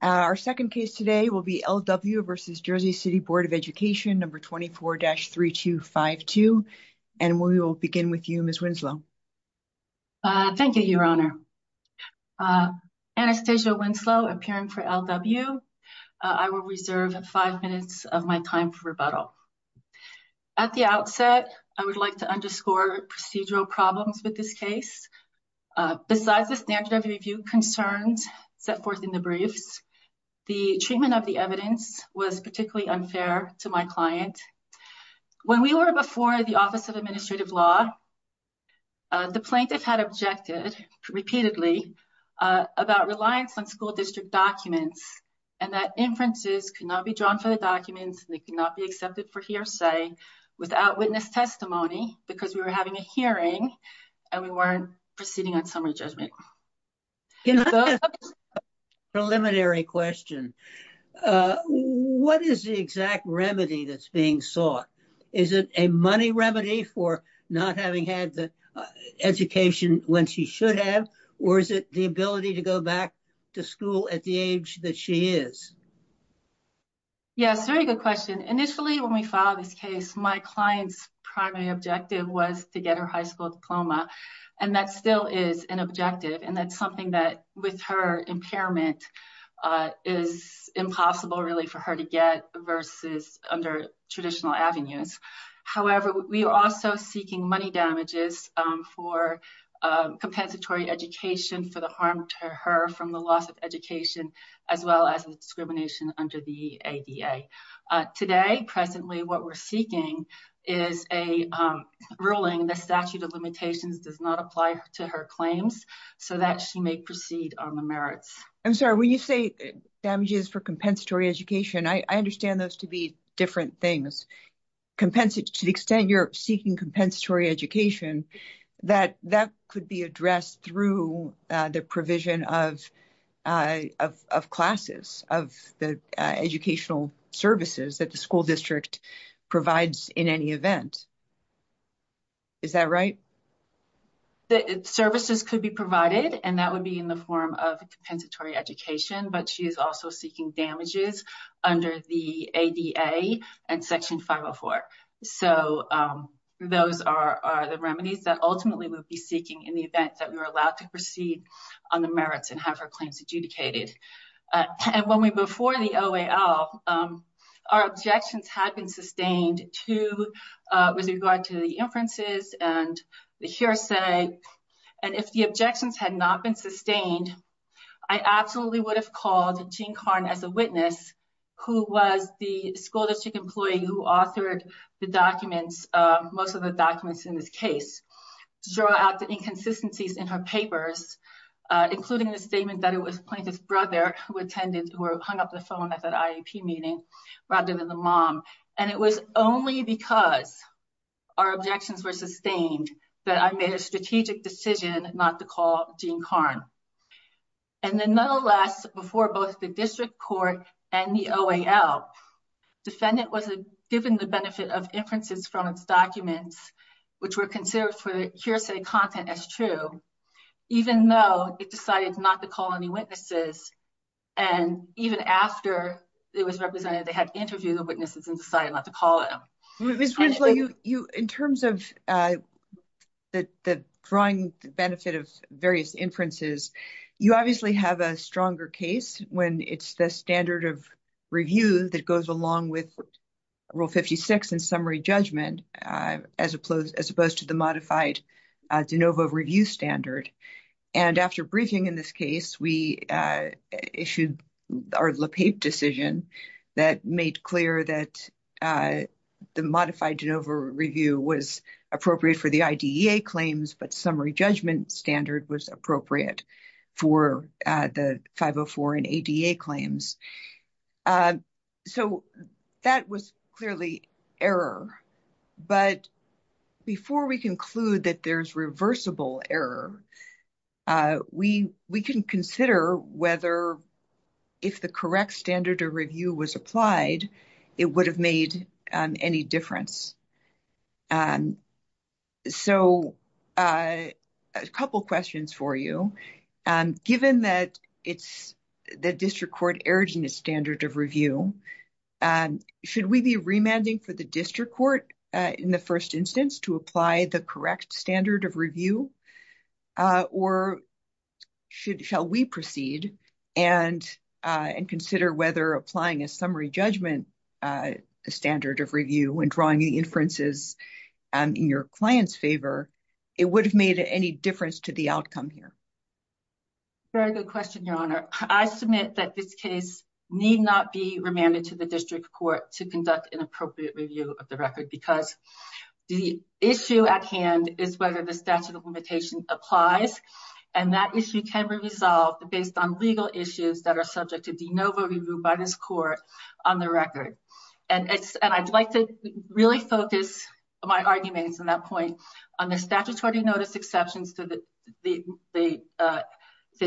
Our second case today will be LW v. Jersey City Board of Education, No. 24-3252, and we will begin with you, Ms. Winslow. Thank you, Your Honor. Anastasia Winslow, appearing for LW. I will reserve 5 minutes of my time for rebuttal. At the outset, I would like to underscore procedural problems with this case. Besides the standard of review concerns set forth in the briefs, the treatment of the evidence was particularly unfair to my client. When we were before the Office of Administrative Law, the plaintiff had objected repeatedly about reliance on school district documents and that inferences could not be drawn for the documents and they could not be accepted for hearsay without witness testimony because we were having a hearing and we weren't proceeding on summary judgment. Can I ask a preliminary question? What is the exact remedy that's being sought? Is it a money remedy for not having had the education when she should have, or is it the ability to go back to school at the age that she is? Yes, very good question. Initially, when we filed this case, my client's primary objective was to get her high school diploma and that still is an objective and that's something that with her impairment is impossible really for her to get versus under traditional avenues. However, we are also seeking money damages for compensatory education for the harm to her from the loss of education as well as discrimination under the ADA. Today, presently, what we're seeking is a ruling the statute of limitations does not apply to her claims so that she may proceed on the merits. I'm sorry, when you say damages for compensatory education, I understand those to be different things. To the extent you're seeking compensatory education, that could be addressed through the provision of classes, of the educational services that the school district provides in any event. Is that right? The services could be provided and that would be in the form of compensatory education, but she is also seeking damages under the ADA and Section 504. So, those are the remedies that ultimately we'll be seeking in the event that we're allowed to proceed on the merits and have her claims adjudicated. Before the OAL, our objections had been sustained with regard to the inferences and the hearsay. And if the objections had not been sustained, I absolutely would have called Jean Karn as a witness, who was the school district employee who authored the documents, most of the documents in this case, to draw out the inconsistencies in her papers, including the statement that it was Plaintiff's brother who attended, who hung up the phone at that IEP meeting, rather than the mom. And it was only because our objections were sustained that I made a strategic decision not to call Jean Karn. And then nonetheless, before both the district court and the OAL, defendant was given the benefit of inferences from its documents, which were considered for hearsay content as true, even though it decided not to call any witnesses. And even after it was represented, they had interviewed the witnesses and decided not to call them. Ms. Ridgely, in terms of the drawing benefit of various inferences, you obviously have a stronger case when it's the standard of review that goes along with Rule 56 and summary judgment, as opposed to the modified de novo review standard. And after briefing in this case, we issued our Le Pape decision that made clear that the modified de novo review was appropriate for the IDEA claims, but summary judgment standard was appropriate for the 504 and ADA claims. So that was clearly error. But before we conclude that there's reversible error, we can consider whether if the correct standard of review was applied, it would have made any difference. So a couple questions for you. Given that it's the district court urging a standard of review, should we be remanding for the district court in the first instance to apply the correct standard of review? Or shall we proceed and consider whether applying a summary judgment standard of review and drawing the inferences in your client's favor, it would have made any difference to the outcome here? Very good question, Your Honor. I submit that this case need not be remanded to the district court to conduct an appropriate review of the record because the issue at hand is whether the statute of limitation applies. And that issue can be resolved based on legal issues that are subject to de novo review by this court on the record. And I'd like to really focus my arguments on that point on the statutory notice exceptions to the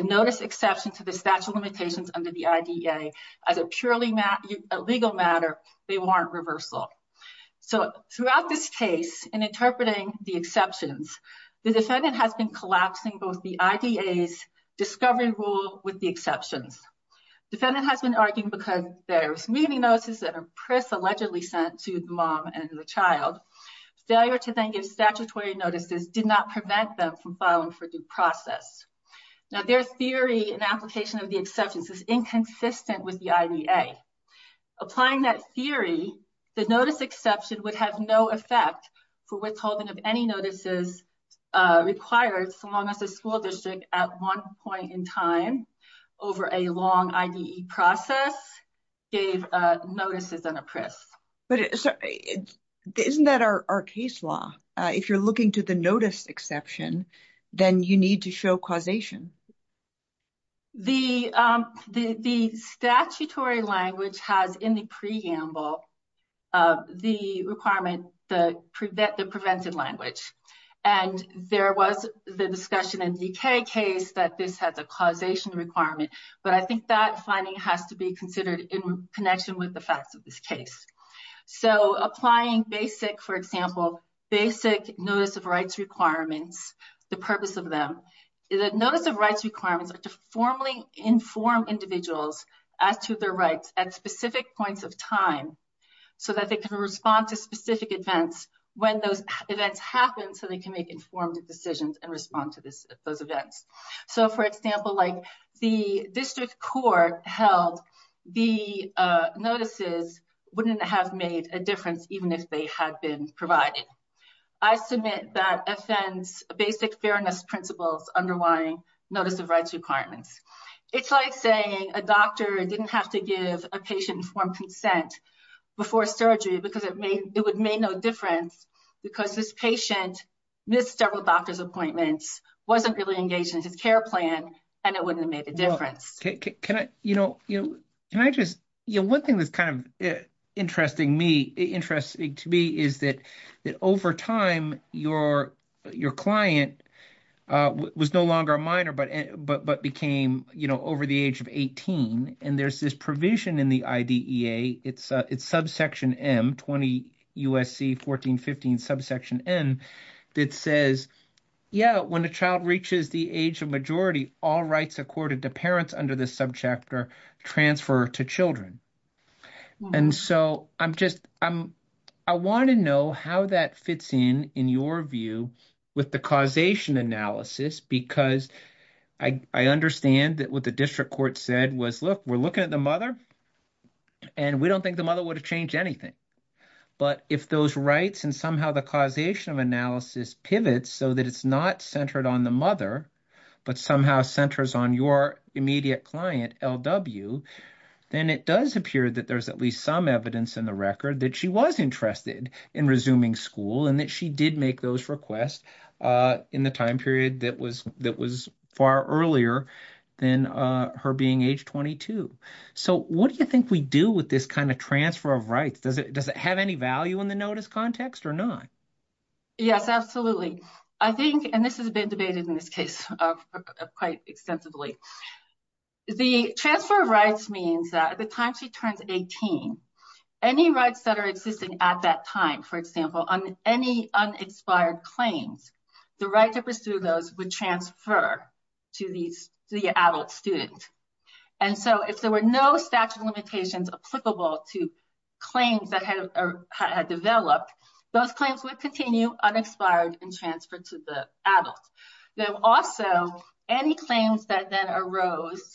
notice exception to the statute of limitations under the IDEA as a purely legal matter, they warrant reversal. So throughout this case, in interpreting the exceptions, the defendant has been collapsing both the IDEA's discovery rule with the exceptions. Defendant has been arguing because there's meeting notices that are allegedly sent to the mom and the child. Failure to then give statutory notices did not prevent them from filing for due process. Now, their theory and application of the exceptions is inconsistent with the IDEA. Applying that theory, the notice exception would have no effect for withholding of any notices required so long as the school district at one point in time over a long IDE process gave notices in a press. Isn't that our case law? If you're looking to the notice exception, then you need to show causation. The statutory language has in the preamble the requirement, the preventive language. And there was the discussion in DK case that this has a causation requirement, but I think that finding has to be considered in connection with the facts of this case. So applying basic, for example, basic notice of rights requirements, the purpose of them, the notice of rights requirements are to formally inform individuals as to their rights at specific points of time so that they can respond to specific events when those events happen so they can make informed decisions and respond to those events. So, for example, the district court held the notices wouldn't have made a difference even if they had been provided. I submit that FN's basic fairness principles underlying notice of rights requirements. It's like saying a doctor didn't have to give a patient informed consent before surgery because it would make no difference because this patient missed several doctor's appointments, wasn't really engaged in his care plan, and it wouldn't have made a difference. One thing that's kind of interesting to me is that over time your client was no longer a minor but became over the age of 18. And there's this provision in the IDEA, it's subsection M, 20 U.S.C. 1415 subsection N, that says, yeah, when a child reaches the age of majority, all rights accorded to parents under this subchapter transfer to children. I want to know how that fits in, in your view, with the causation analysis because I understand that what the district court said was, look, we're looking at the mother and we don't think the mother would have changed anything. But if those rights and somehow the causation of analysis pivots so that it's not centered on the mother but somehow centers on your immediate client LW, then it does appear that there's at least some evidence in the record that she was interested in resuming school and that she did make those requests in the time period that was far earlier than her being age 22. So what do you think we do with this kind of transfer of rights? Does it have any value in the notice context or not? Yes, absolutely. I think, and this has been debated in this case quite extensively. The transfer of rights means that at the time she turns 18 any rights that are existing at that time, for example, on any unexpired claims the right to pursue those would transfer to the adult student. And so if there were no statute of limitations applicable to claims that had developed those claims would continue unexpired and transferred to the adult. Then also any claims that then arose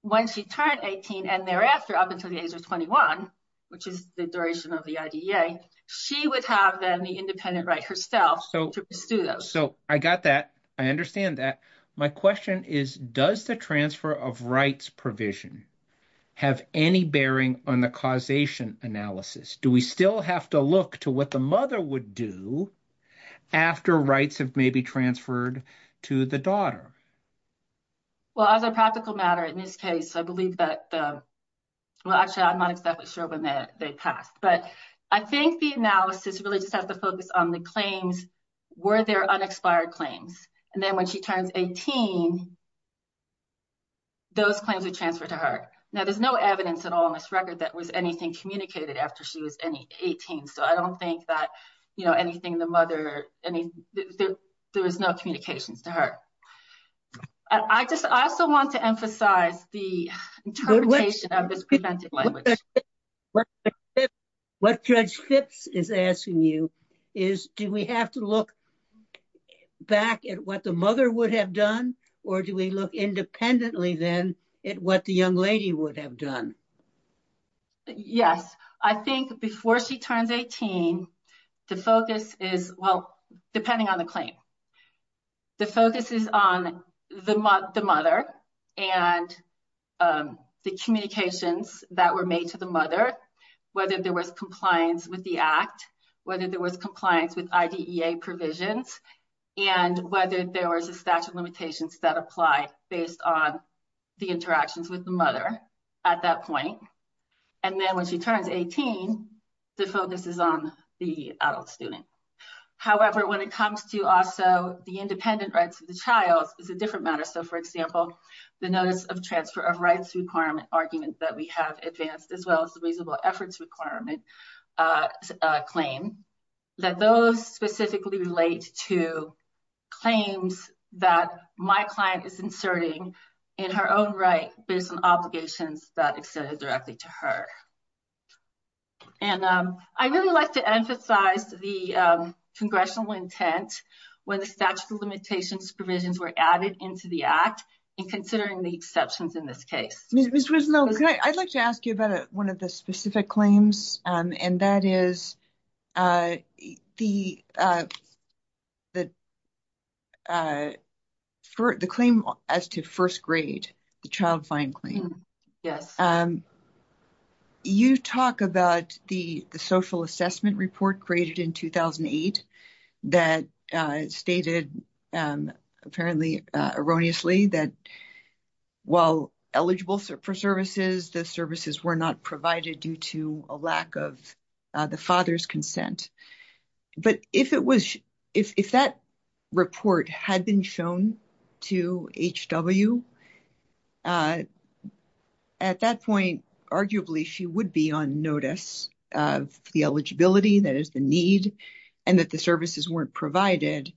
when she turned 18 and thereafter up until the age of 21, which is the duration of the IDEA, she would have then the independent right herself to pursue those. So I got that. I understand that. My question is does the transfer of rights provision have any bearing on the causation analysis? Do we still have to look to what the mother would do after rights have maybe transferred to the daughter? Well, as a practical matter, in this case, I believe that well, actually, I'm not exactly sure when they passed. But I think the analysis really just has to focus on the claims. Were there unexpired claims? And then when she turns 18 those claims are transferred to her. Now, there's no evidence at all in this record that was anything communicated after she was 18. So I don't think that anything the mother there was no communications to her. I just also want to emphasize the interpretation of this language. What Judge Phipps is asking you is do we have to look back at what the mother would have done? Or do we look independently then at what the young lady would have done? Yes, I think before she turns 18, the focus is well, depending on the claim. The focus is on the mother and the communications that were made to the mother, whether there was compliance with the act, whether there was compliance with IDEA provisions, and whether there was a statute of limitations that apply based on the interactions with the mother at that point. And then when she turns 18, the focus is on the adult student. However, when it comes to also the independent rights of the child, it's a different matter. So for example, the notice of transfer of rights requirement argument that we have advanced, as well as the reasonable efforts requirement claim, that those specifically relate to claims that my client is inserting in her own right based on obligations that extended directly to her. And I really like to emphasize the congressional intent when the statute of limitations provisions were added into the act, and considering the exceptions in this case. Ms. Rizlo, I'd like to ask you about one of the specific claims, and that is the claim as to first grade, the child fine claim. You talk about the social assessment report created in 2008 that stated apparently erroneously that while eligible for services, the services were not provided due to a lack of the father's consent. But if that report had been shown to H.W., at that point, arguably she would be on notice of the eligibility, that is the need, and that the services weren't provided.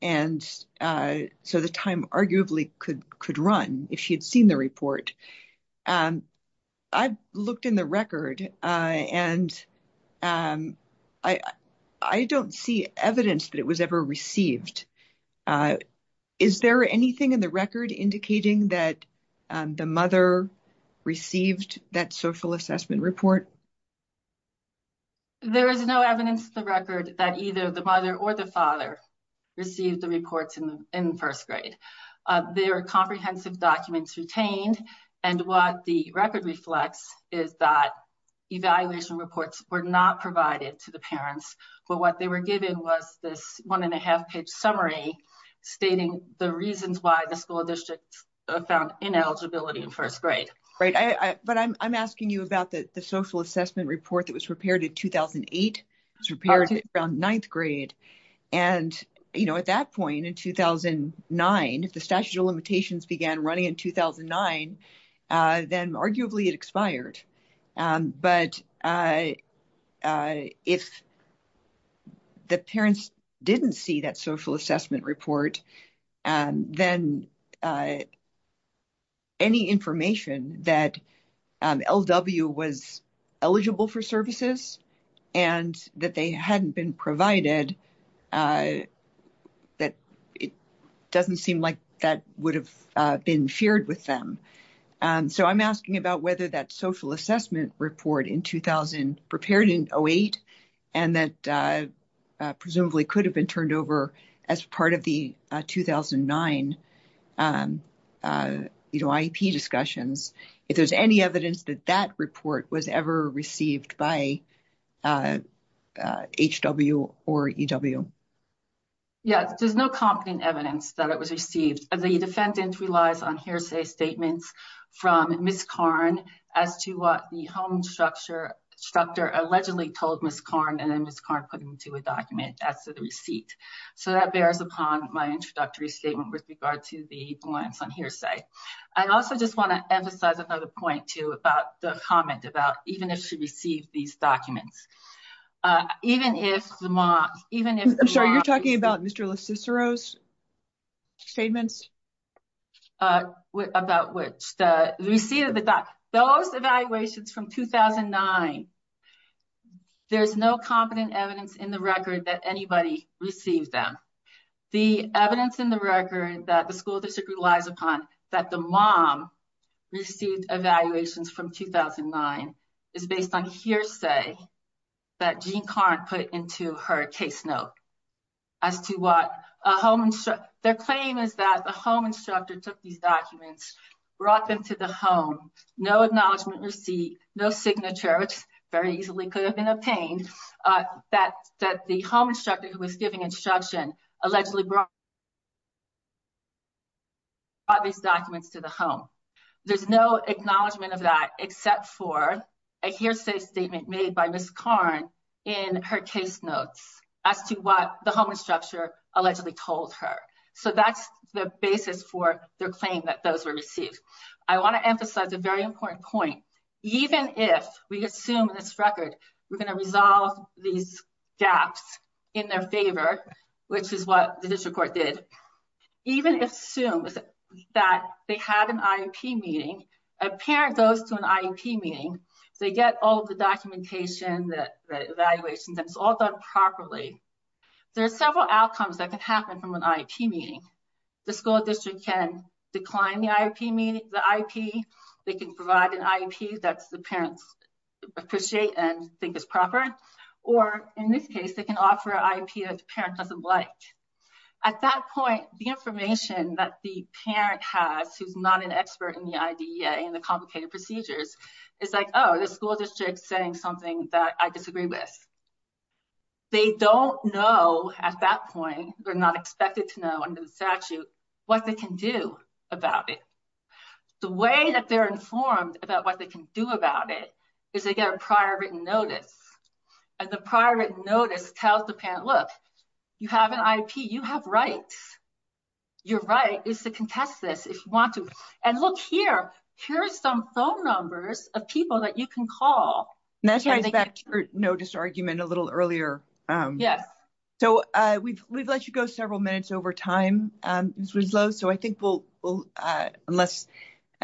And so the time arguably could run if she had seen the report. I've looked in the record, and I don't see evidence that it was ever received. Is there anything in the record indicating that the mother received that social assessment report? There is no evidence in the record that either the mother or the father received the reports in first grade. There are comprehensive documents retained, and what the record reflects is that evaluation reports were not provided to the parents, but what they were given was this one and a half page summary stating the reasons why the school district found ineligibility in first grade. But I'm asking you about the social assessment report that was prepared in 2008. It was prepared around ninth grade, and at that point in 2009, if the statute of limitations began running in 2009, then arguably it expired. But if the parents didn't see that social assessment report, that LW was eligible for services, and that they hadn't been provided, it doesn't seem like that would have been shared with them. So I'm asking about whether that social assessment report in 2000 prepared in 2008, and that presumably could have been turned over as part of the 2009 IEP discussions. If there's any evidence that that report was ever received by HW or EW. Yes, there's no competent evidence that it was received. The defendant relies on hearsay statements from Ms. Karn as to what the home structure allegedly told Ms. Karn, and then Ms. Karn put into a document as to the receipt. So that bears upon my introductory statement with regard to the glance on hearsay. I also just want to emphasize another point too about the comment about even if she received these documents. I'm sorry, you're talking about Mr. LoCicero's statements? About which, the receipt of the documents. Those evaluations from 2009, there's no competent evidence in the record that anybody received them. The evidence in the record that the school district relies upon that the mom received evaluations from 2009 is based on hearsay that Jeanne Karn put into her case note. Their claim is that the home instructor took these documents, brought them to the home, no acknowledgement receipt, no signature, which very easily could have been obtained, that the home instructor who was giving instruction allegedly brought these documents to the home. There's no acknowledgement of that except for a hearsay statement made by Ms. Karn in her case notes as to what the home instructor allegedly told her. So that's the basis for their claim that those were received. I want to emphasize a very important point. Even if we assume in this record we're going to resolve these gaps in their favor, which is what the district court did, even if assumed that they had an IEP meeting, a parent goes to an IEP meeting, they get all the documentation, the evaluations, and it's all done properly, there are several outcomes that can happen from an IEP meeting. The school district can decline the IEP meeting, they can provide an IEP that the parents appreciate and think is proper, or in this case, they can offer an IEP that the parent doesn't like. At that point, the information that the parent has who's not an expert in the IDEA and the complicated procedures is like, oh, the school district is saying something that I disagree with. They don't know at that point, they're not expected to know under the statute, what they can do about it. The way that they're informed about what they can do about it is they get a prior written notice. And the prior written notice tells the parent, look, you have an IEP, you have rights. Your right is to contest this if you want to. And look here, here's some phone numbers of people that you can call. No disargument a little earlier. So we've let you go several minutes over time, Ms. Winslow, so I think we'll, unless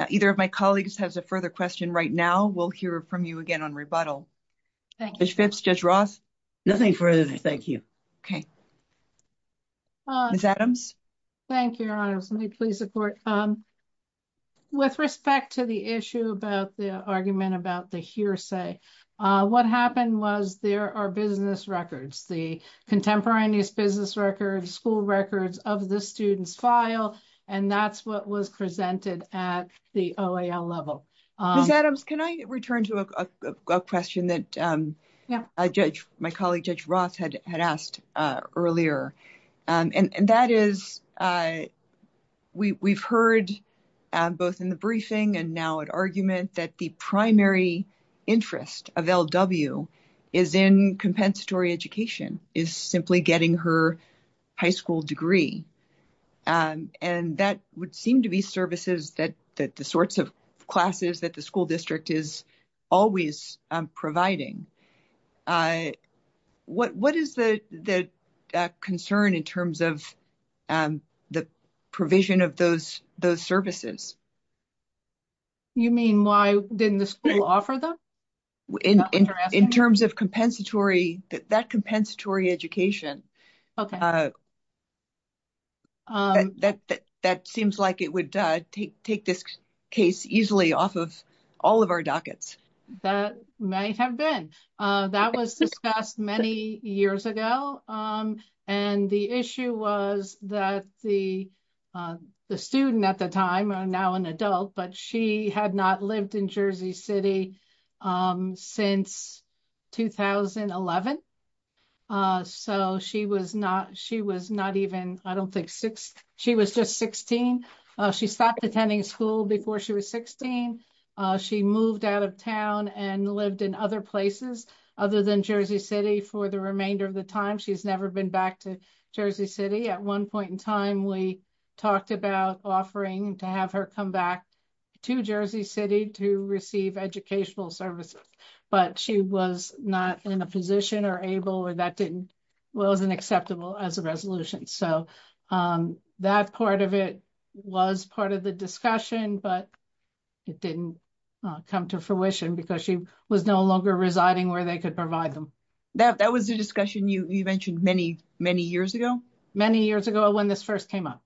either of my colleagues has a further question right now, we'll hear from you again on rebuttal. Judge Phipps, Judge Ross? Nothing further, thank you. Okay. Ms. Adams? Thank you, Your Honor. Let me please report. With respect to the issue about the argument about the hearsay, what happened was there are business records, the contemporaneous business records, school records of the student's file, and that's what was presented at the OAL level. Ms. Adams, can I return to a question that my colleague Judge Ross had asked earlier? And that is, we've heard both in the briefing and now at argument that the primary interest of L.W. is in compensatory education, is simply getting her high school degree. And that would seem to be services that the sorts of classes that the school district is always providing. What is the concern in terms of the provision of those services? You mean why didn't the school offer them? In terms of compensatory, that compensatory education, that seems like it would take this case easily off of all of our dockets. That may have been. That was discussed many years ago, and the issue was that the student at the time, now an adult, but she had not lived in Jersey City since 2011. So she was not even, I don't think, she was just 16. She stopped attending school before she was 16. She moved out of town and lived in other places other than Jersey City for the remainder of the time. She's never been back to Jersey City. At one point in time, we talked about offering to have her come back to Jersey City to receive educational services, but she was not in a position or able or that wasn't acceptable as a resolution. So that part of it was part of the discussion, but it didn't come to fruition because she was no longer residing where they could provide them. That was the discussion you mentioned many, many years ago? Many years ago when this first came up.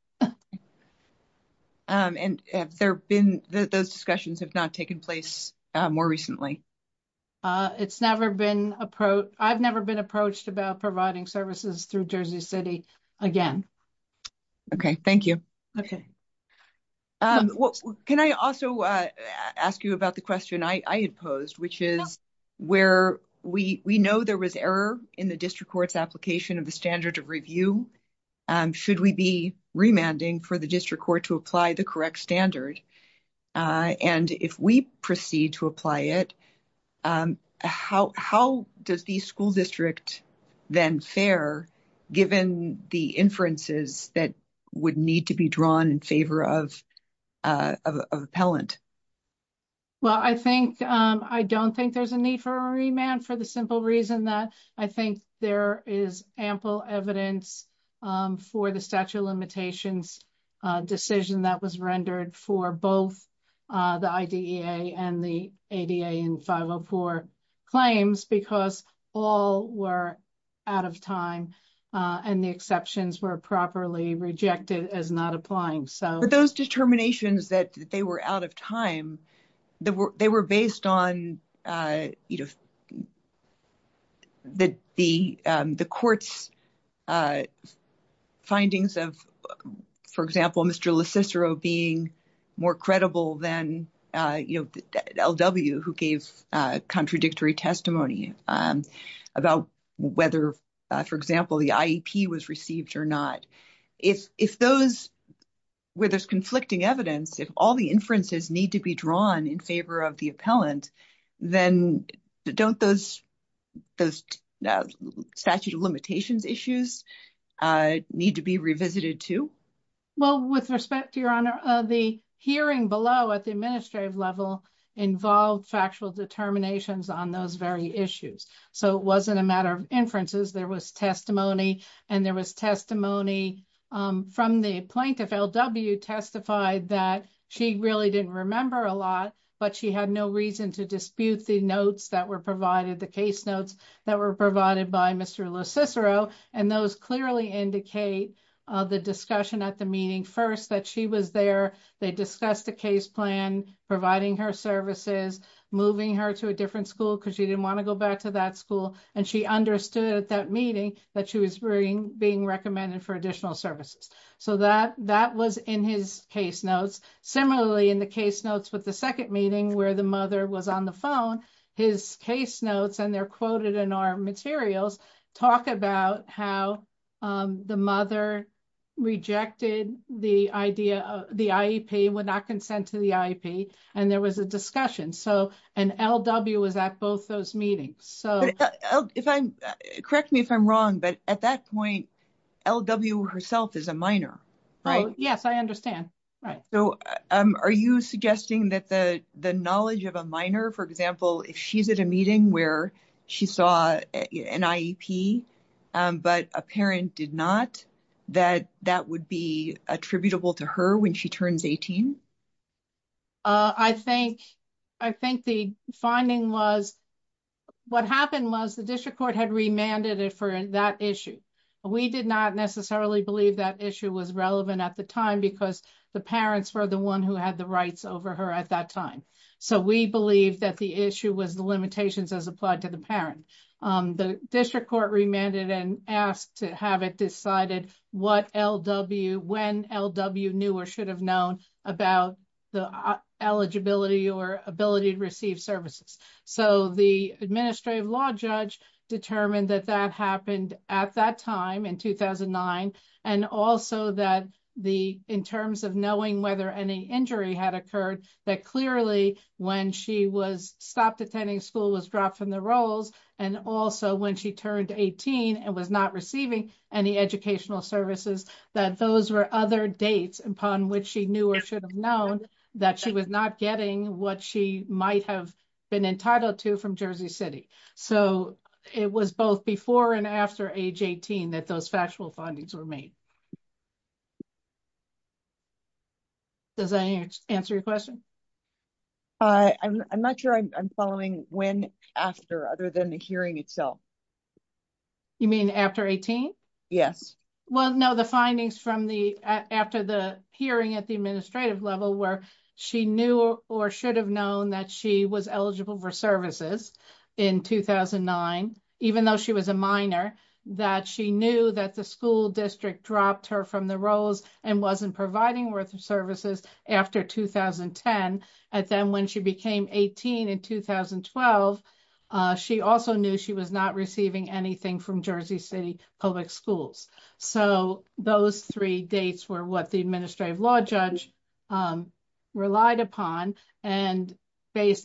And have there been, those discussions have not taken place more recently? It's never been, I've never been approached about providing services through Jersey City again. Okay, thank you. Can I also ask you about the question I had posed, which is where we know there was error in the district court's application of the standard of review. Should we be remanding for the district court to apply the correct standard? And if we proceed to apply it, how does the school district then fare given the inferences that would need to be drawn in favor of appellant? Well, I don't think there's a need for a remand for the simple reason that I think there is ample evidence for the statute of limitations decision that was rendered for both the IDEA and the ADA in 504 claims because all were out of time and the exceptions were properly rejected as not applying. But those determinations that they were out of time, they were based on the court's findings of, for example, Mr. LoCicero being more credible than LW who gave contradictory testimony about whether, for example, the IEP was received or not. If those, where there's conflicting evidence, if all the inferences need to be drawn in favor of the appellant, then don't those statute of limitations issues need to be revisited too? Well, with respect to Your Honor, the hearing below at the administrative level involved factual determinations on those very issues. So it wasn't a matter of inferences. There was testimony and there was testimony from the plaintiff. LW testified that she really didn't remember a lot, but she had no reason to dispute the notes that were provided, the case notes that were provided by Mr. LoCicero and those clearly indicate the discussion at the meeting first that she was there. They discussed the case plan, providing her services, moving her to a different school because she didn't want to go back to that school, and she understood at that meeting that she was being recommended for additional services. So that was in his case notes. Similarly, in the case notes with the second meeting where the mother was on the phone, his case notes, and they're quoted in our materials, talk about how the mother rejected the idea of the IEP, would not consent to the IEP, and there was a discussion. And LW was at both those meetings. Correct me if I'm wrong, but at that point, LW herself is a minor, right? Yes, I understand. So are you suggesting that the knowledge of a minor, for example, if she's at a meeting where she saw an IEP but a parent did not, that that would be attributable to her when she turns 18? I think the finding was what happened was the district court had remanded it for that issue. We did not necessarily believe that issue was relevant at the time because the parents were the one who had the rights over her at that time. So we believe that the issue was the limitations as applied to the parent. The district court remanded and asked to have it decided what LW, when LW knew or should have known about the eligibility or ability to receive services. So the administrative law judge determined that that happened at that time in 2009. And also that in terms of knowing whether any injury had occurred, that clearly when she was stopped attending school, was dropped from the roles, and also when she turned 18 and was not receiving any educational services, that those were other dates upon which she knew or should have known that she was not getting what she might have been entitled to from Jersey City. So it was both before and after age 18 that those factual findings were made. Does that answer your question? I'm not sure I'm following when after other than the hearing itself. You mean after 18? Yes. Well, no, the findings after the hearing at the administrative level where she knew or should have known that she was eligible for services in 2009, even though she was a minor, that she knew that the school district dropped her from the roles and wasn't providing worth of services after 2010. And then when she became 18 in 2012, she also knew she was not receiving anything from Jersey City Public Schools. So those three dates were what the administrative law judge relied upon. When is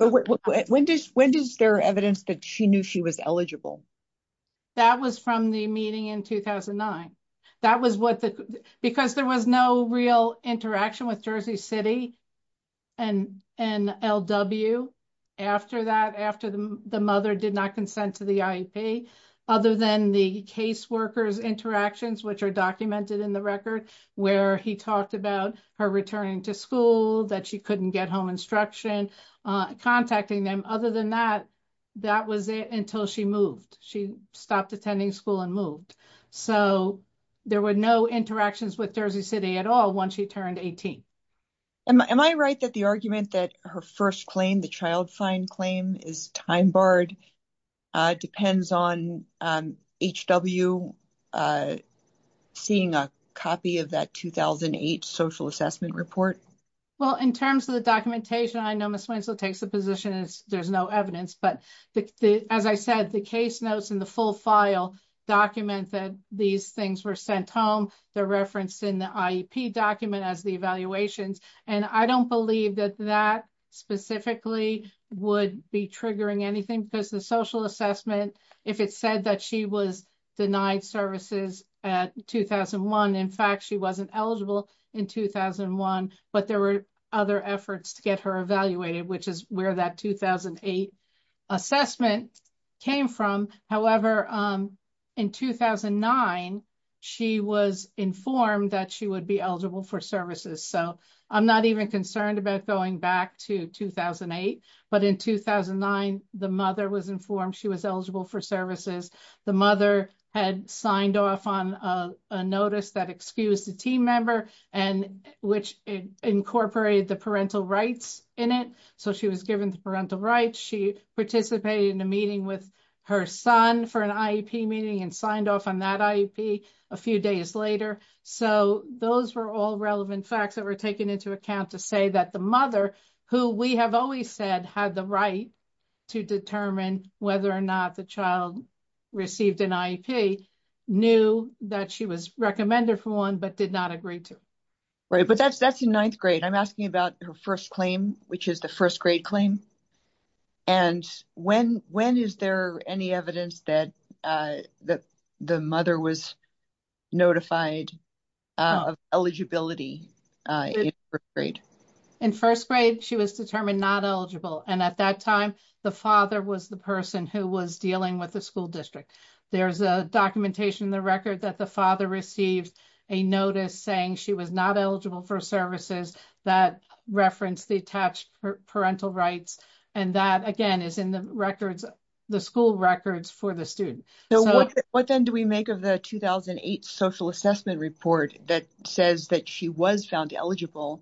there evidence that she knew she was eligible? That was from the meeting in 2009. Because there was no real interaction with Jersey City and L.W. after that, after the mother did not consent to the IEP, other than the caseworker's interactions, which are documented in the record, where he talked about her returning to school, that she couldn't get home instruction, contacting them. Other than that, that was it until she moved. She stopped attending school and moved. So there were no interactions with Jersey City at all once she turned 18. Am I right that the argument that her first claim, the child fine claim, is time barred depends on H.W. seeing a copy of that There's no evidence. But as I said, the case notes in the full file document that these things were sent home. They're referenced in the IEP document as the evaluations. And I don't believe that that specifically would be triggering anything. Because the social assessment, if it said that she was denied services at 2001, in fact, she wasn't eligible in 2001. But there were other efforts to get her evaluated, which is where that 2008 assessment came from. However, in 2009, she was informed that she would be eligible for services. So I'm not even concerned about going back to 2008. But in 2009, the mother was informed she was eligible for services. The mother had signed off on a notice that excused a team member and which incorporated the parental rights in it. So she was given the parental rights. She participated in a meeting with her son for an IEP meeting and signed off on that IEP a few days later. So those were all relevant facts that were taken into account to say that the mother who we have always said had the right to determine whether or not the child received an IEP, knew that she was recommended for one but did not agree to. Right. But that's in ninth grade. I'm asking about her first claim, which is the first grade claim. And when is there any evidence that the mother was notified of eligibility in first grade? In first grade, she was determined not eligible. And at that time, the father was the person who was dealing with the school district. There's documentation in the record that the father received a notice saying she was not eligible for services that referenced the attached parental rights. And that, again, is in the school records for the student. What then do we make of the 2008 social assessment report that says that she was found eligible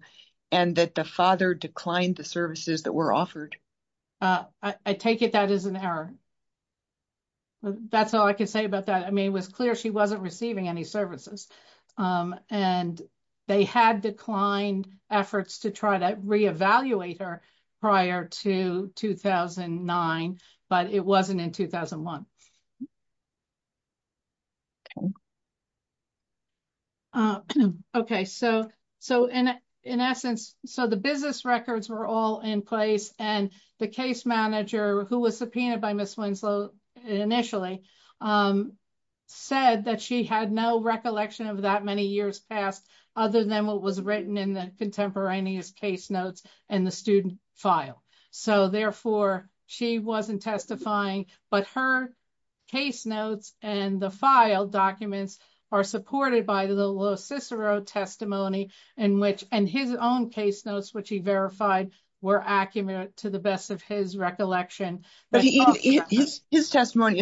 and that the father declined the services that were offered? I take it that is an error. That's all I can say about that. I mean, it was clear she wasn't receiving any services. And they had declined efforts to try to reevaluate her prior to 2009, but it wasn't in 2001. Okay. So in essence, so the business records were all in place and the case manager who was in charge of the case was the person who testified. And the case manager had no recollection of that many years past other than what was written in the contemporaneous case notes and the student file. So therefore, she wasn't testifying, but her case notes and the file documents are supported by the Lo Cicero testimony and his own case notes, which he verified were accurate to the best of his recollection. His testimony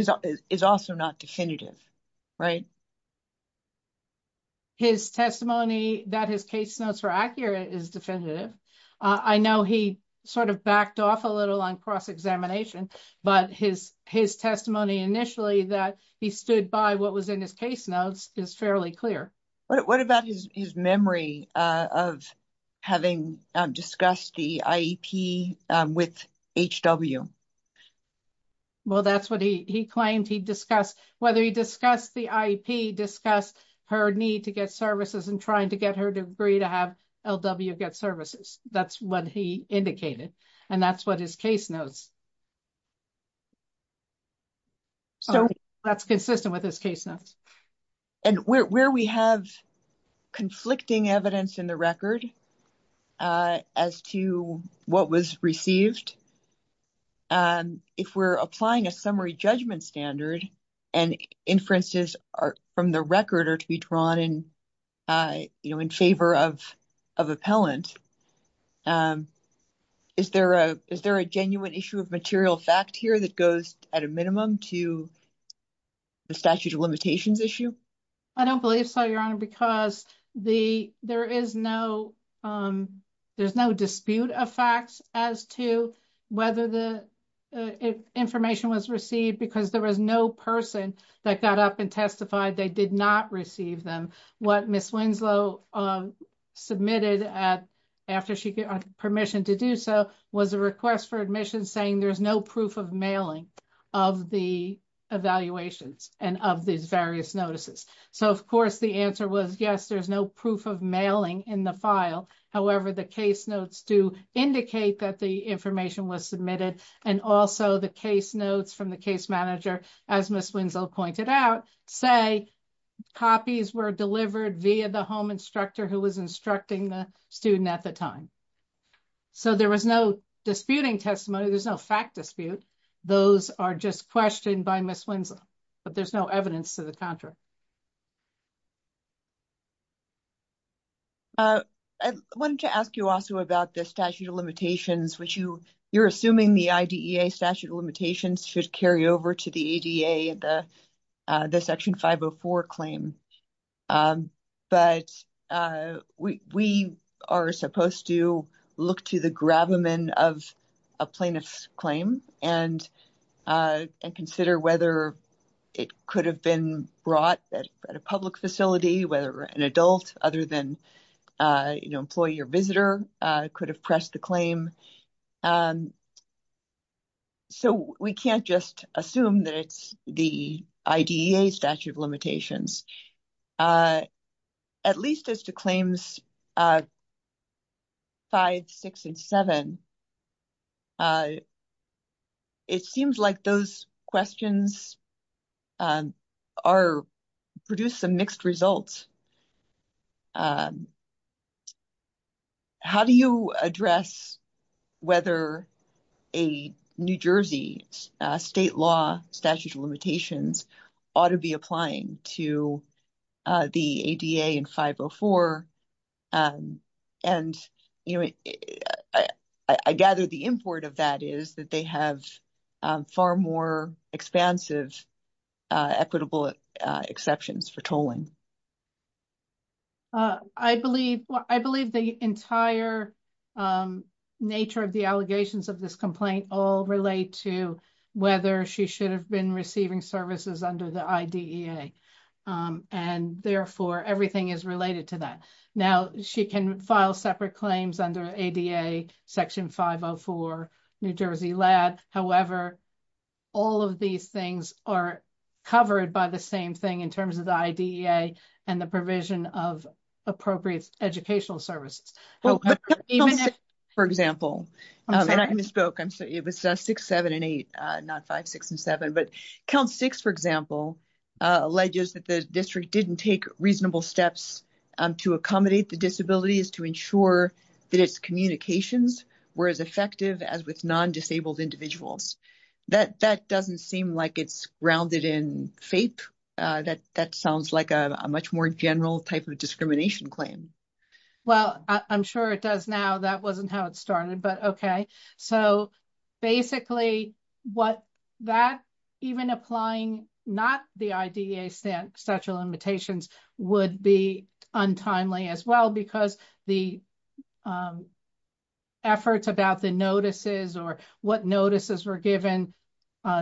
is also not definitive, right? His testimony that his case notes were accurate is definitive. I know he sort of backed off a little on cross-examination, but his testimony initially that he stood by what was in his case notes is fairly clear. What about his memory of having discussed the IEP with HW? Well, that's what he claimed he discussed. Whether he discussed the IEP, discussed her need to get services and trying to get her to agree to have LW get services. That's what he indicated. And that's what his case notes. So that's consistent with his case notes. And where we have conflicting evidence in the record as to what was received, if we're applying a summary judgment standard and inferences from the record are to be drawn in favor of appellant. Is there a genuine issue of material fact here that goes at a minimum to the statute of limitations issue? I don't believe so, Your Honor, because there is no dispute of facts as to whether the information was received because there was no person that got up and testified they did not receive them. What Ms. Winslow submitted after she got permission to do so was a request for admission saying there's no proof of mailing of the evaluations and of these various notices. So, of course, the answer was, yes, there's no proof of mailing in the file. However, the case notes do indicate that the information was submitted and also the case notes from the case manager as Ms. Winslow pointed out, say copies were delivered via the home instructor who was instructing the student at the time. So there was no disputing testimony. There's no fact dispute. Those are just questioned by Ms. Winslow, but there's no evidence to the contrary. I wanted to ask you also about the statute of limitations, which you're assuming the IDEA statute of limitations should carry over to the ADA the Section 504 claim. But we are supposed to look to the gravamen of a plaintiff's claim and consider whether it could have been brought at a public facility, whether an adult other than employee or visitor could have pressed the claim. So we can't just assume that it's the IDEA statute of limitations. At least as to claims 5, 6, and 7, it seems like those questions produce some mixed results. How do you address whether a New Jersey state law statute of limitations ought to be applying to the ADA and 504? I gather the import of that is that they have far more expansive equitable exceptions for tolling. I believe the entire nature of the allegations of this complaint all relate to whether she should have been receiving services under the IDEA. And therefore, everything is related to that. Now, she can file separate claims under ADA Section 504 New Jersey Lab. However, all of these things are covered by the same thing in terms of the IDEA and the provision of appropriate educational services. For example, and I misspoke. It was 6, 7, and 8, not 5, 6, and 7. Count 6, for example, alleges that the district didn't take reasonable steps to accommodate the disabilities to ensure that its communications were as effective as with non-disabled individuals. That doesn't seem like it's grounded in FAPE. That sounds like a much more general type of discrimination claim. I'm sure it does now. That wasn't how it started. Basically, even applying not the IDEA statute of limitations would be untimely as well because the efforts about the notices or what notices were given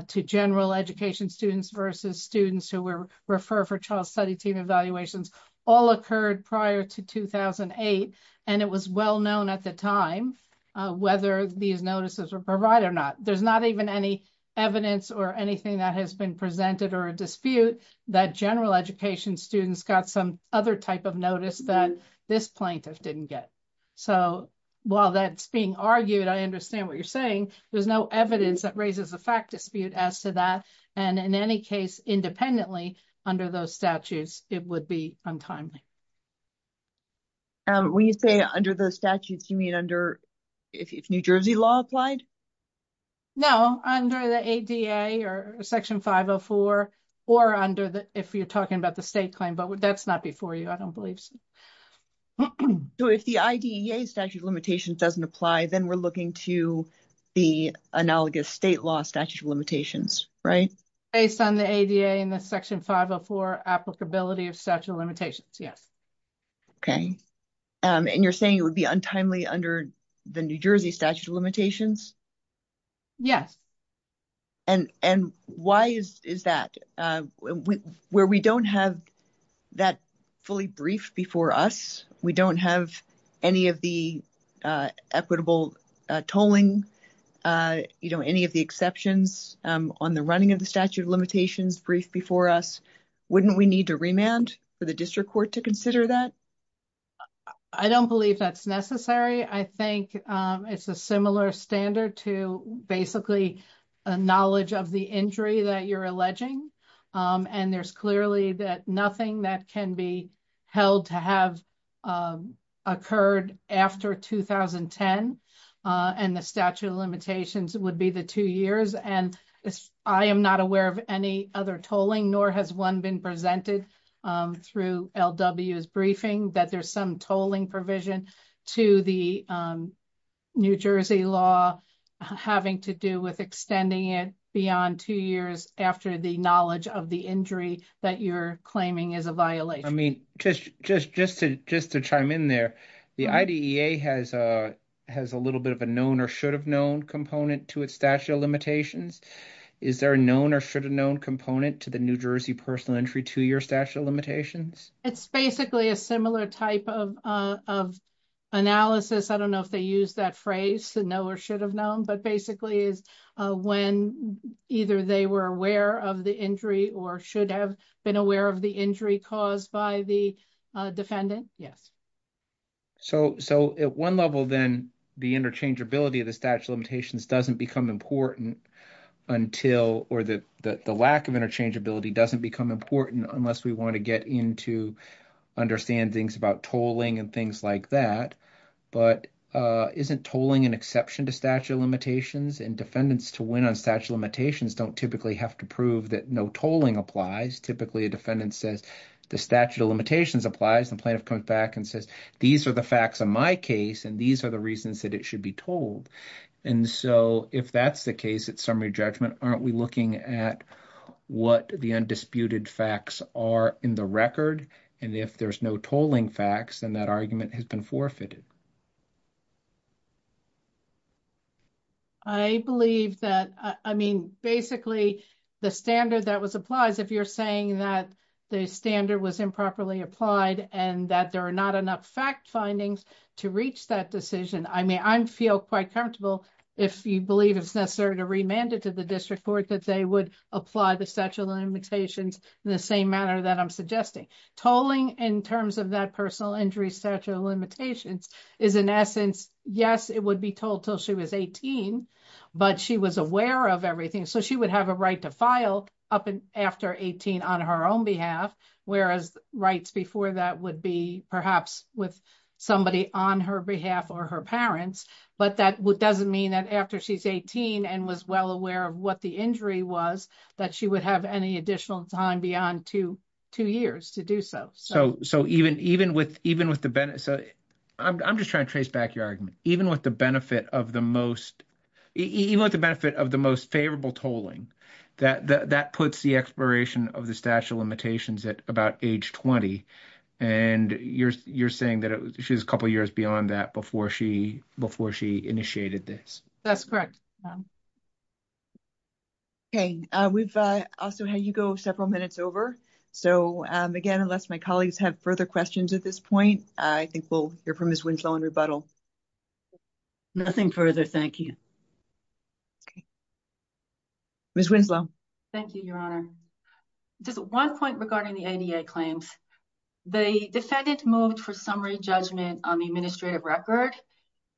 to general education students versus students who were referred for child study team evaluations all occurred prior to 2008, and it was well known at the time whether these notices were provided or not. There's not even any evidence or anything that has been presented or a dispute that general education students got some other type of notice that this plaintiff didn't get. While that's being argued, I understand what you're saying. There's no evidence that raises a fact dispute as to that. In any case, independently under those statutes, it would be untimely. When you say under those statutes, you mean if New Jersey law applied? No, under the ADA or Section 504 or if you're talking about the state claim, but that's not before you, I don't believe so. If the IDEA statute of limitations doesn't apply, then we're looking to the analogous state law statute of limitations, right? Based on the ADA and the Section 504 applicability of statute of limitations, yes. You're saying it would be untimely under the New Jersey statute of limitations? Yes. Why is that? Where we don't have that fully briefed before us, we don't have any of the equitable tolling, any of the exceptions on the running of the statute of limitations briefed before us, wouldn't we need to remand for the district court to consider that? I don't believe that's necessary. I think it's a similar standard to basically a knowledge of the injury that you're alleging and there's clearly nothing that can be held to have occurred after 2010 and the statute of limitations would be the two years. I am not aware of any other tolling, nor has one been presented through LW's briefing that there's some tolling provision to the New Jersey law having to do with extending it beyond two years after the knowledge of the injury that you're claiming is a violation. Just to chime in there, the IDEA has a little bit of a known or should have known component to its statute of limitations. Is there a known or should have known component to the New Jersey personal entry two-year statute of limitations? It's basically a similar type of analysis. I don't know if they use that phrase, but basically it's when either they were aware of the injury or should have been aware of the injury caused by the defendant. At one level, then, the interchangeability of the statute of limitations doesn't become important or the lack of interchangeability doesn't become important unless we want to get into understand things about tolling and things like that. But isn't tolling an exception to statute of limitations? Defendants to win on statute of limitations don't typically have to prove that no tolling applies. Typically, a defendant says the statute of limitations applies. The plaintiff comes back and says, these are the facts of my case and these are the reasons that it should be told. If that's the case at summary judgment, aren't we looking at what the undisputed facts are in the record? If there's no tolling facts, then that argument has been forfeited. I believe that, I mean, basically, the standard that was applied, if you're saying that the standard was improperly applied and that there are not enough fact findings to reach that decision, I mean, I feel quite comfortable if you believe it's necessary to remand it to the district court that they would apply the statute of limitations in the same manner that I'm suggesting. Tolling in terms of that personal injury statute of limitations is, in essence, yes, it would be told until she was 18, but she was aware of everything. So she would have a right to file after 18 on her own behalf, whereas rights before that would be perhaps with somebody on her behalf or her parents. But that doesn't mean that after she's 18 and was well aware of what the injury was, that she would have any additional time beyond two years to do so. I'm just trying to trace back your argument. Even with the benefit of the most favorable tolling, that puts the expiration of the statute of limitations at about age 20. And you're saying that she was a couple of years beyond that before she initiated this. That's correct. We've also had you go several minutes over. Again, unless my colleagues have further questions at this point, I think we'll hear from Ms. Winslow in rebuttal. Nothing further, thank you. Ms. Winslow. Thank you, Your Honor. Just one point regarding the ADA claims. The defendant moved for summary judgment on the administrative record.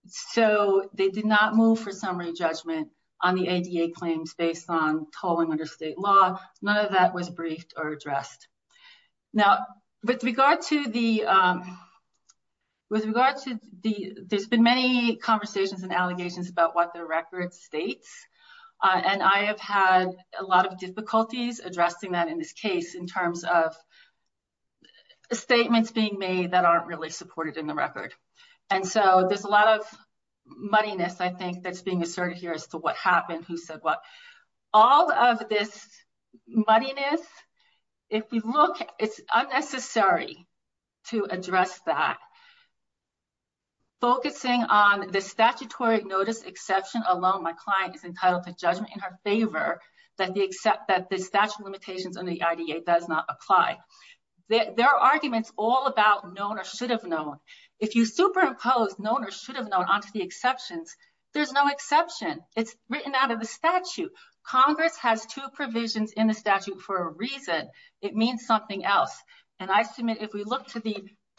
So they did not move for summary judgment on the ADA claims based on tolling under state law. None of that was briefed or addressed. There's been many conversations and allegations about what the record states. And I have had a lot of difficulties addressing that in this case in terms of statements being made that aren't really supported in the record. And so there's a lot of muddiness, I think, that's being asserted here as to what happened, who said what. All of this muddiness, if you look, it's unnecessary to address that. Focusing on the statutory notice exception alone, my client is entitled to judgment in her favor that the statute of limitations under the ADA does not apply. There are arguments all about known or should have known. If you superimpose known or should have known onto the exceptions, there's no exception. It's written out of the statute. Congress has two provisions in the statute for a reason. It means something else. And I submit if we look to the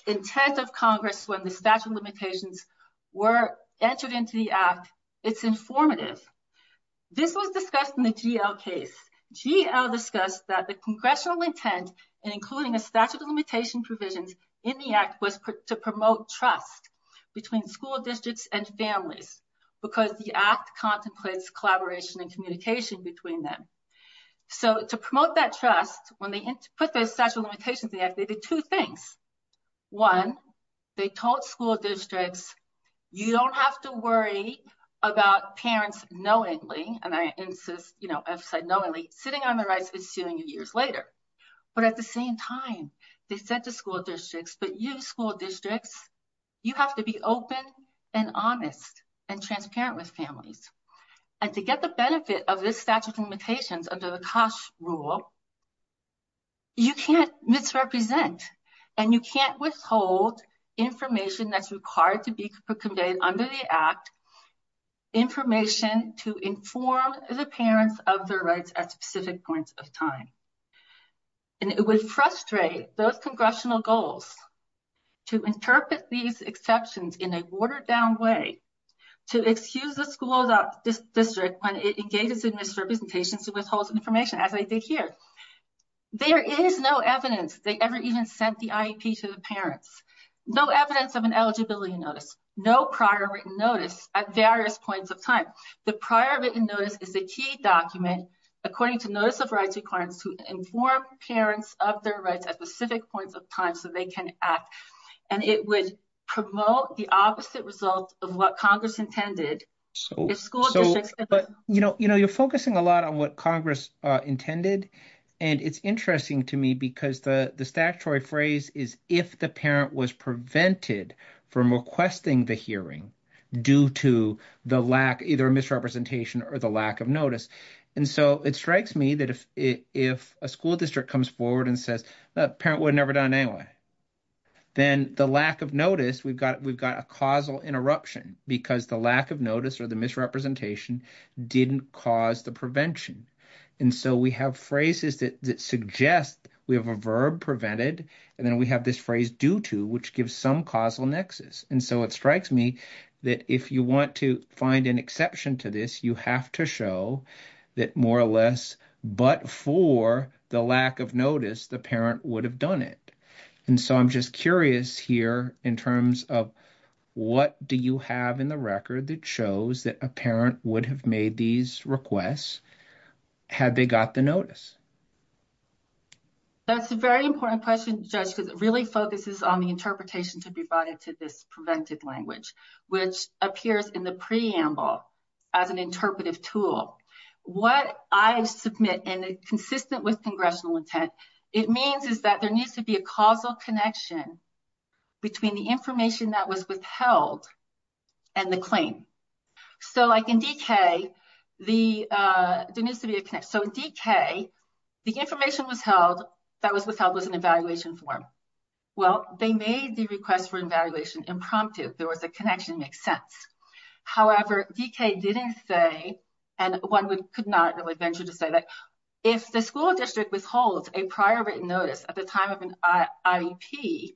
intent of Congress when the statute of limitations were entered into the act, it's informative. This was discussed in the GL case. GL discussed that the congressional intent in including a statute of limitation provisions in the act was to promote trust between school districts and families because the act contemplates collaboration and communication between them. So to promote that trust, when they put those statute of limitations in the act, they did two things. One, they told school districts you don't have to worry about parents knowingly, and I insist, I've said knowingly, sitting on their rights is suing you years later. But at the same time, they said to school districts, but you school districts, you have to be open and honest and transparent with families. And to get the benefit of this statute of limitations under the COSH rule, you can't misrepresent and you can't withhold information that's required to be conveyed under the act, information to inform the parents of their rights at specific points of time. And it would frustrate those congressional goals to interpret these exceptions in a watered down way to excuse the school district when it engages in misrepresentations and withholds information, as I did here. There is no evidence they ever even sent the IEP to the parents. No evidence of an eligibility notice. No prior written notice at various points of time. The prior written notice is a key document according to notice of rights requirements to inform parents of their rights at specific points of time so they can act. And it would promote the opposite result of what Congress intended. You're focusing a lot on what Congress intended. And it's interesting to me because the statutory phrase is if the parent was prevented from requesting the hearing due to either a misrepresentation or the lack of notice. And so it strikes me that if a school district comes forward and says, parent would have never done it anyway. Then the lack of notice, we've got a causal interruption because the lack of notice or the misrepresentation didn't cause the prevention. And so we have phrases that suggest we have a verb prevented and then we have this phrase due to which gives some causal nexus. And so it strikes me that if you want to find an exception to this you have to show that more or less, but for the lack of notice, the parent would have done it. And so I'm just curious here in terms of what do you have in the record that shows that a parent would have made these requests had they got the notice? That's a very important question, Judge, because it really focuses on the interpretation to be brought into this preventive language, which appears in the preamble as an interpretive tool. What I submit in a consistent with congressional intent, it means is that there needs to be a causal connection between the information that was withheld and the claim. So like in DK, there needs to be a connection. So in DK, the information that was withheld was an evaluation form. Well, they made the request for evaluation impromptu. There was a connection that makes sense. However, DK didn't say and one could not really venture to say that if the school district withholds a prior written notice at the time of an IEP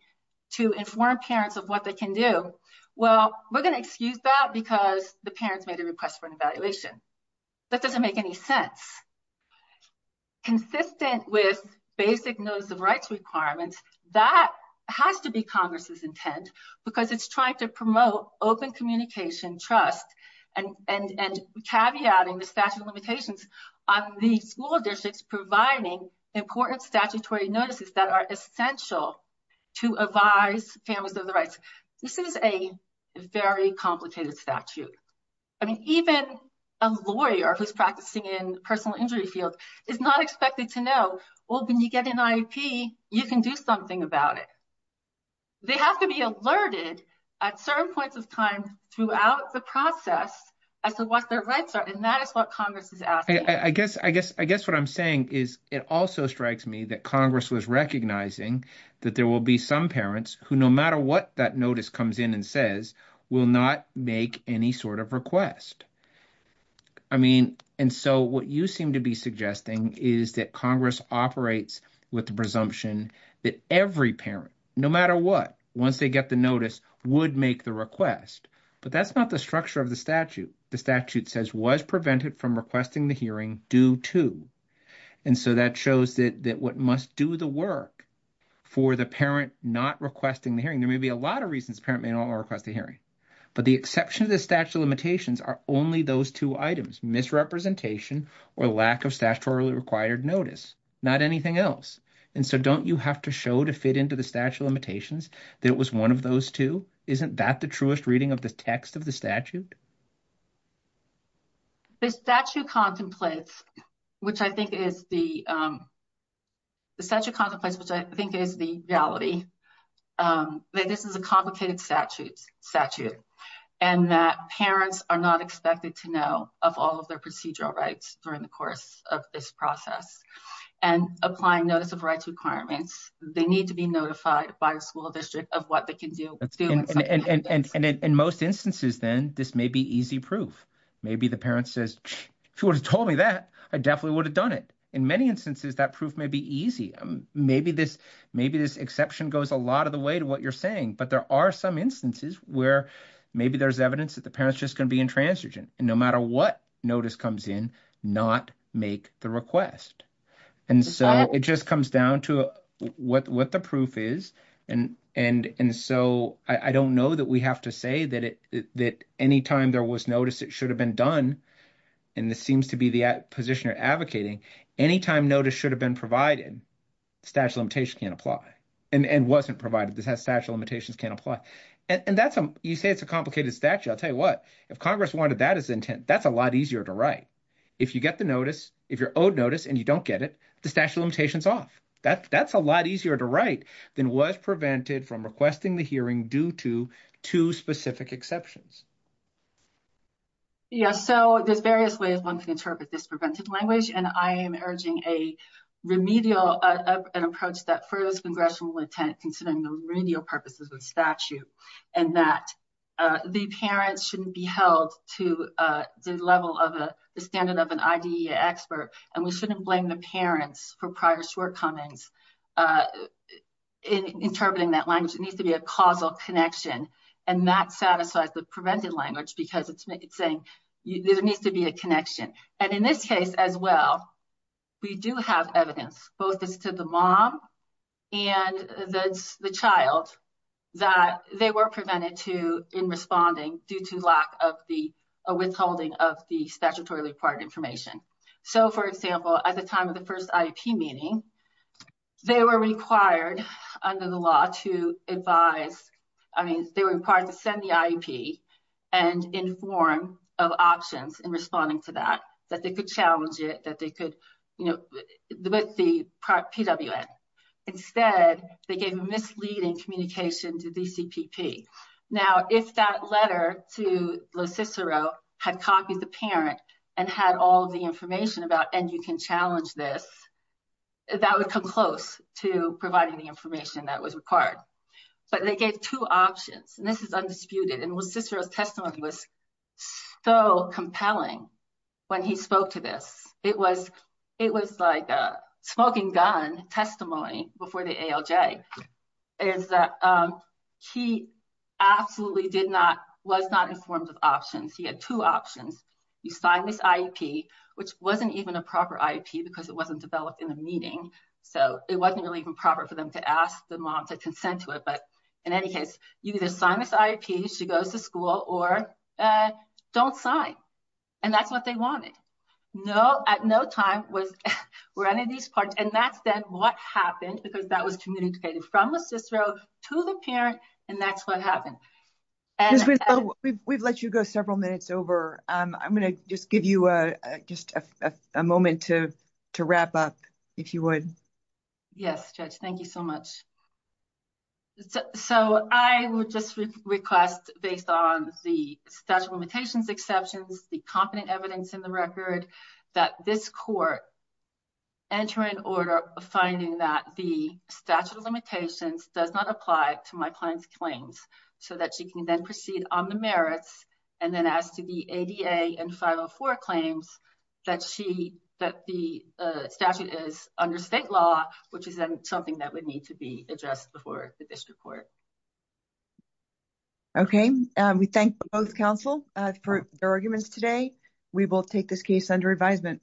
to inform parents of what they can do, well, we're going to excuse that because the parents made a request for an evaluation. That doesn't make any sense. Consistent with basic notice of rights requirements, that has to be Congress's intent because it's trying to promote open communication, trust, and caveating the statute of limitations on the school districts providing important statutory notices that are essential to advise families of the rights. This is a very complicated statute. I mean, even a lawyer who's practicing in personal injury field is not expected to know, well, when you get an IEP, you can do something about it. They have to be alerted at certain points of time throughout the process as to what their rights are. And that is what Congress is asking. I guess what I'm saying is it also strikes me that Congress was recognizing that there will be some parents who, no matter what that notice comes in and says, will not make any sort of request. I mean, and so what you seem to be suggesting is that Congress operates with the presumption that every parent, no matter what, once they get the notice would make the request. But that's not the structure of the statute. The statute says, was prevented from requesting the hearing due to. And so that shows that what must do the work for the parent not requesting the hearing. There may be a lot of reasons a parent may not request a hearing. But the exception to the statute of limitations are only those two items, misrepresentation or lack of statutorily required notice. Not anything else. And so don't you have to show to fit into the statute of limitations that it was one of those two? Isn't that the truest reading of the text of the statute? The statute contemplates, which I think is the reality, that this is a complicated statute and that parents are not expected to know of all of their procedural rights during the course of this process. And applying notice of rights requirements, they need to be notified by the school district of what they can do. And in most instances, then this may be easy proof. Maybe the parent says, she would have told me that I definitely would have done it. In many instances, that proof may be easy. Maybe this exception goes a lot of the way to what you're saying. But there are some instances where maybe there's evidence that the parent's just going to be intransigent. And no matter what notice comes in, not make the request. And so it just comes down to what the proof is. And so I don't know that we have to say that any time there was notice it should have been done. And this seems to be the position you're advocating. Any time notice should have been provided, the statute of limitations can't apply. And wasn't provided, the statute of limitations can't apply. And you say it's a complicated statute. I'll tell you what, if Congress wanted that as intent, that's a lot easier to write. If you get the notice, if you're owed notice and you don't get it, the statute of limitations off. That's a lot easier to write than was prevented from requesting the hearing due to two specific exceptions. Yes. So there's various ways one can interpret this prevented language. And I am urging a remedial approach that furthers congressional intent considering the remedial purposes of the statute. And that the parents shouldn't be held to the level of the standard of an IDEA expert. And we shouldn't blame the parents for prior shortcomings in interpreting that language. It needs to be a causal connection. And that satisfies the prevented language because it's saying there needs to be a connection. And in this case as well, we do have evidence both as to the mom and the child that they were prevented to in responding due to lack of the withholding of the statutorily required information. So, for example, at the time of the first IEP meeting, they were required under the law to advise, I mean, they were required to send the IEP and inform of options in responding to that. That they could challenge it, that they could, you know, with the PWN. Instead, they gave misleading communication to DCPP. Now, if that letter to LoCicero had copied the parent and had all the information about and you can challenge this, that would come close to providing the information that was required. But they gave two options. And this is undisputed. And LoCicero's testimony was so compelling when he spoke to this. It was like a smoking gun testimony before the ALJ. He absolutely did not, was not informed of options. He had two options. You sign this IEP, which wasn't even a proper IEP because it wasn't developed in the meeting. So, it wasn't really even proper for them to ask the mom to consent to it. But in any case, you either sign this IEP, she goes to school, or don't sign. And that's what they wanted. No, at no time were any of these parts. And that's then what happened because that was communicated from LoCicero to the parent. And that's what happened. We've let you go several minutes over. I'm going to just give you just a moment to wrap up, if you would. Yes, Judge, thank you so much. So, I would just request, based on the statute of limitations exceptions, the competent evidence in the record, that this court enter an order finding that the statute of limitations does not apply to my client's claims, so that she can then proceed on the merits. And then as to the ADA and 504 claims, that the statute is under state law, which is something that would need to be addressed before the district court. Okay, we thank both counsel for their arguments today. We will take this case under advisement.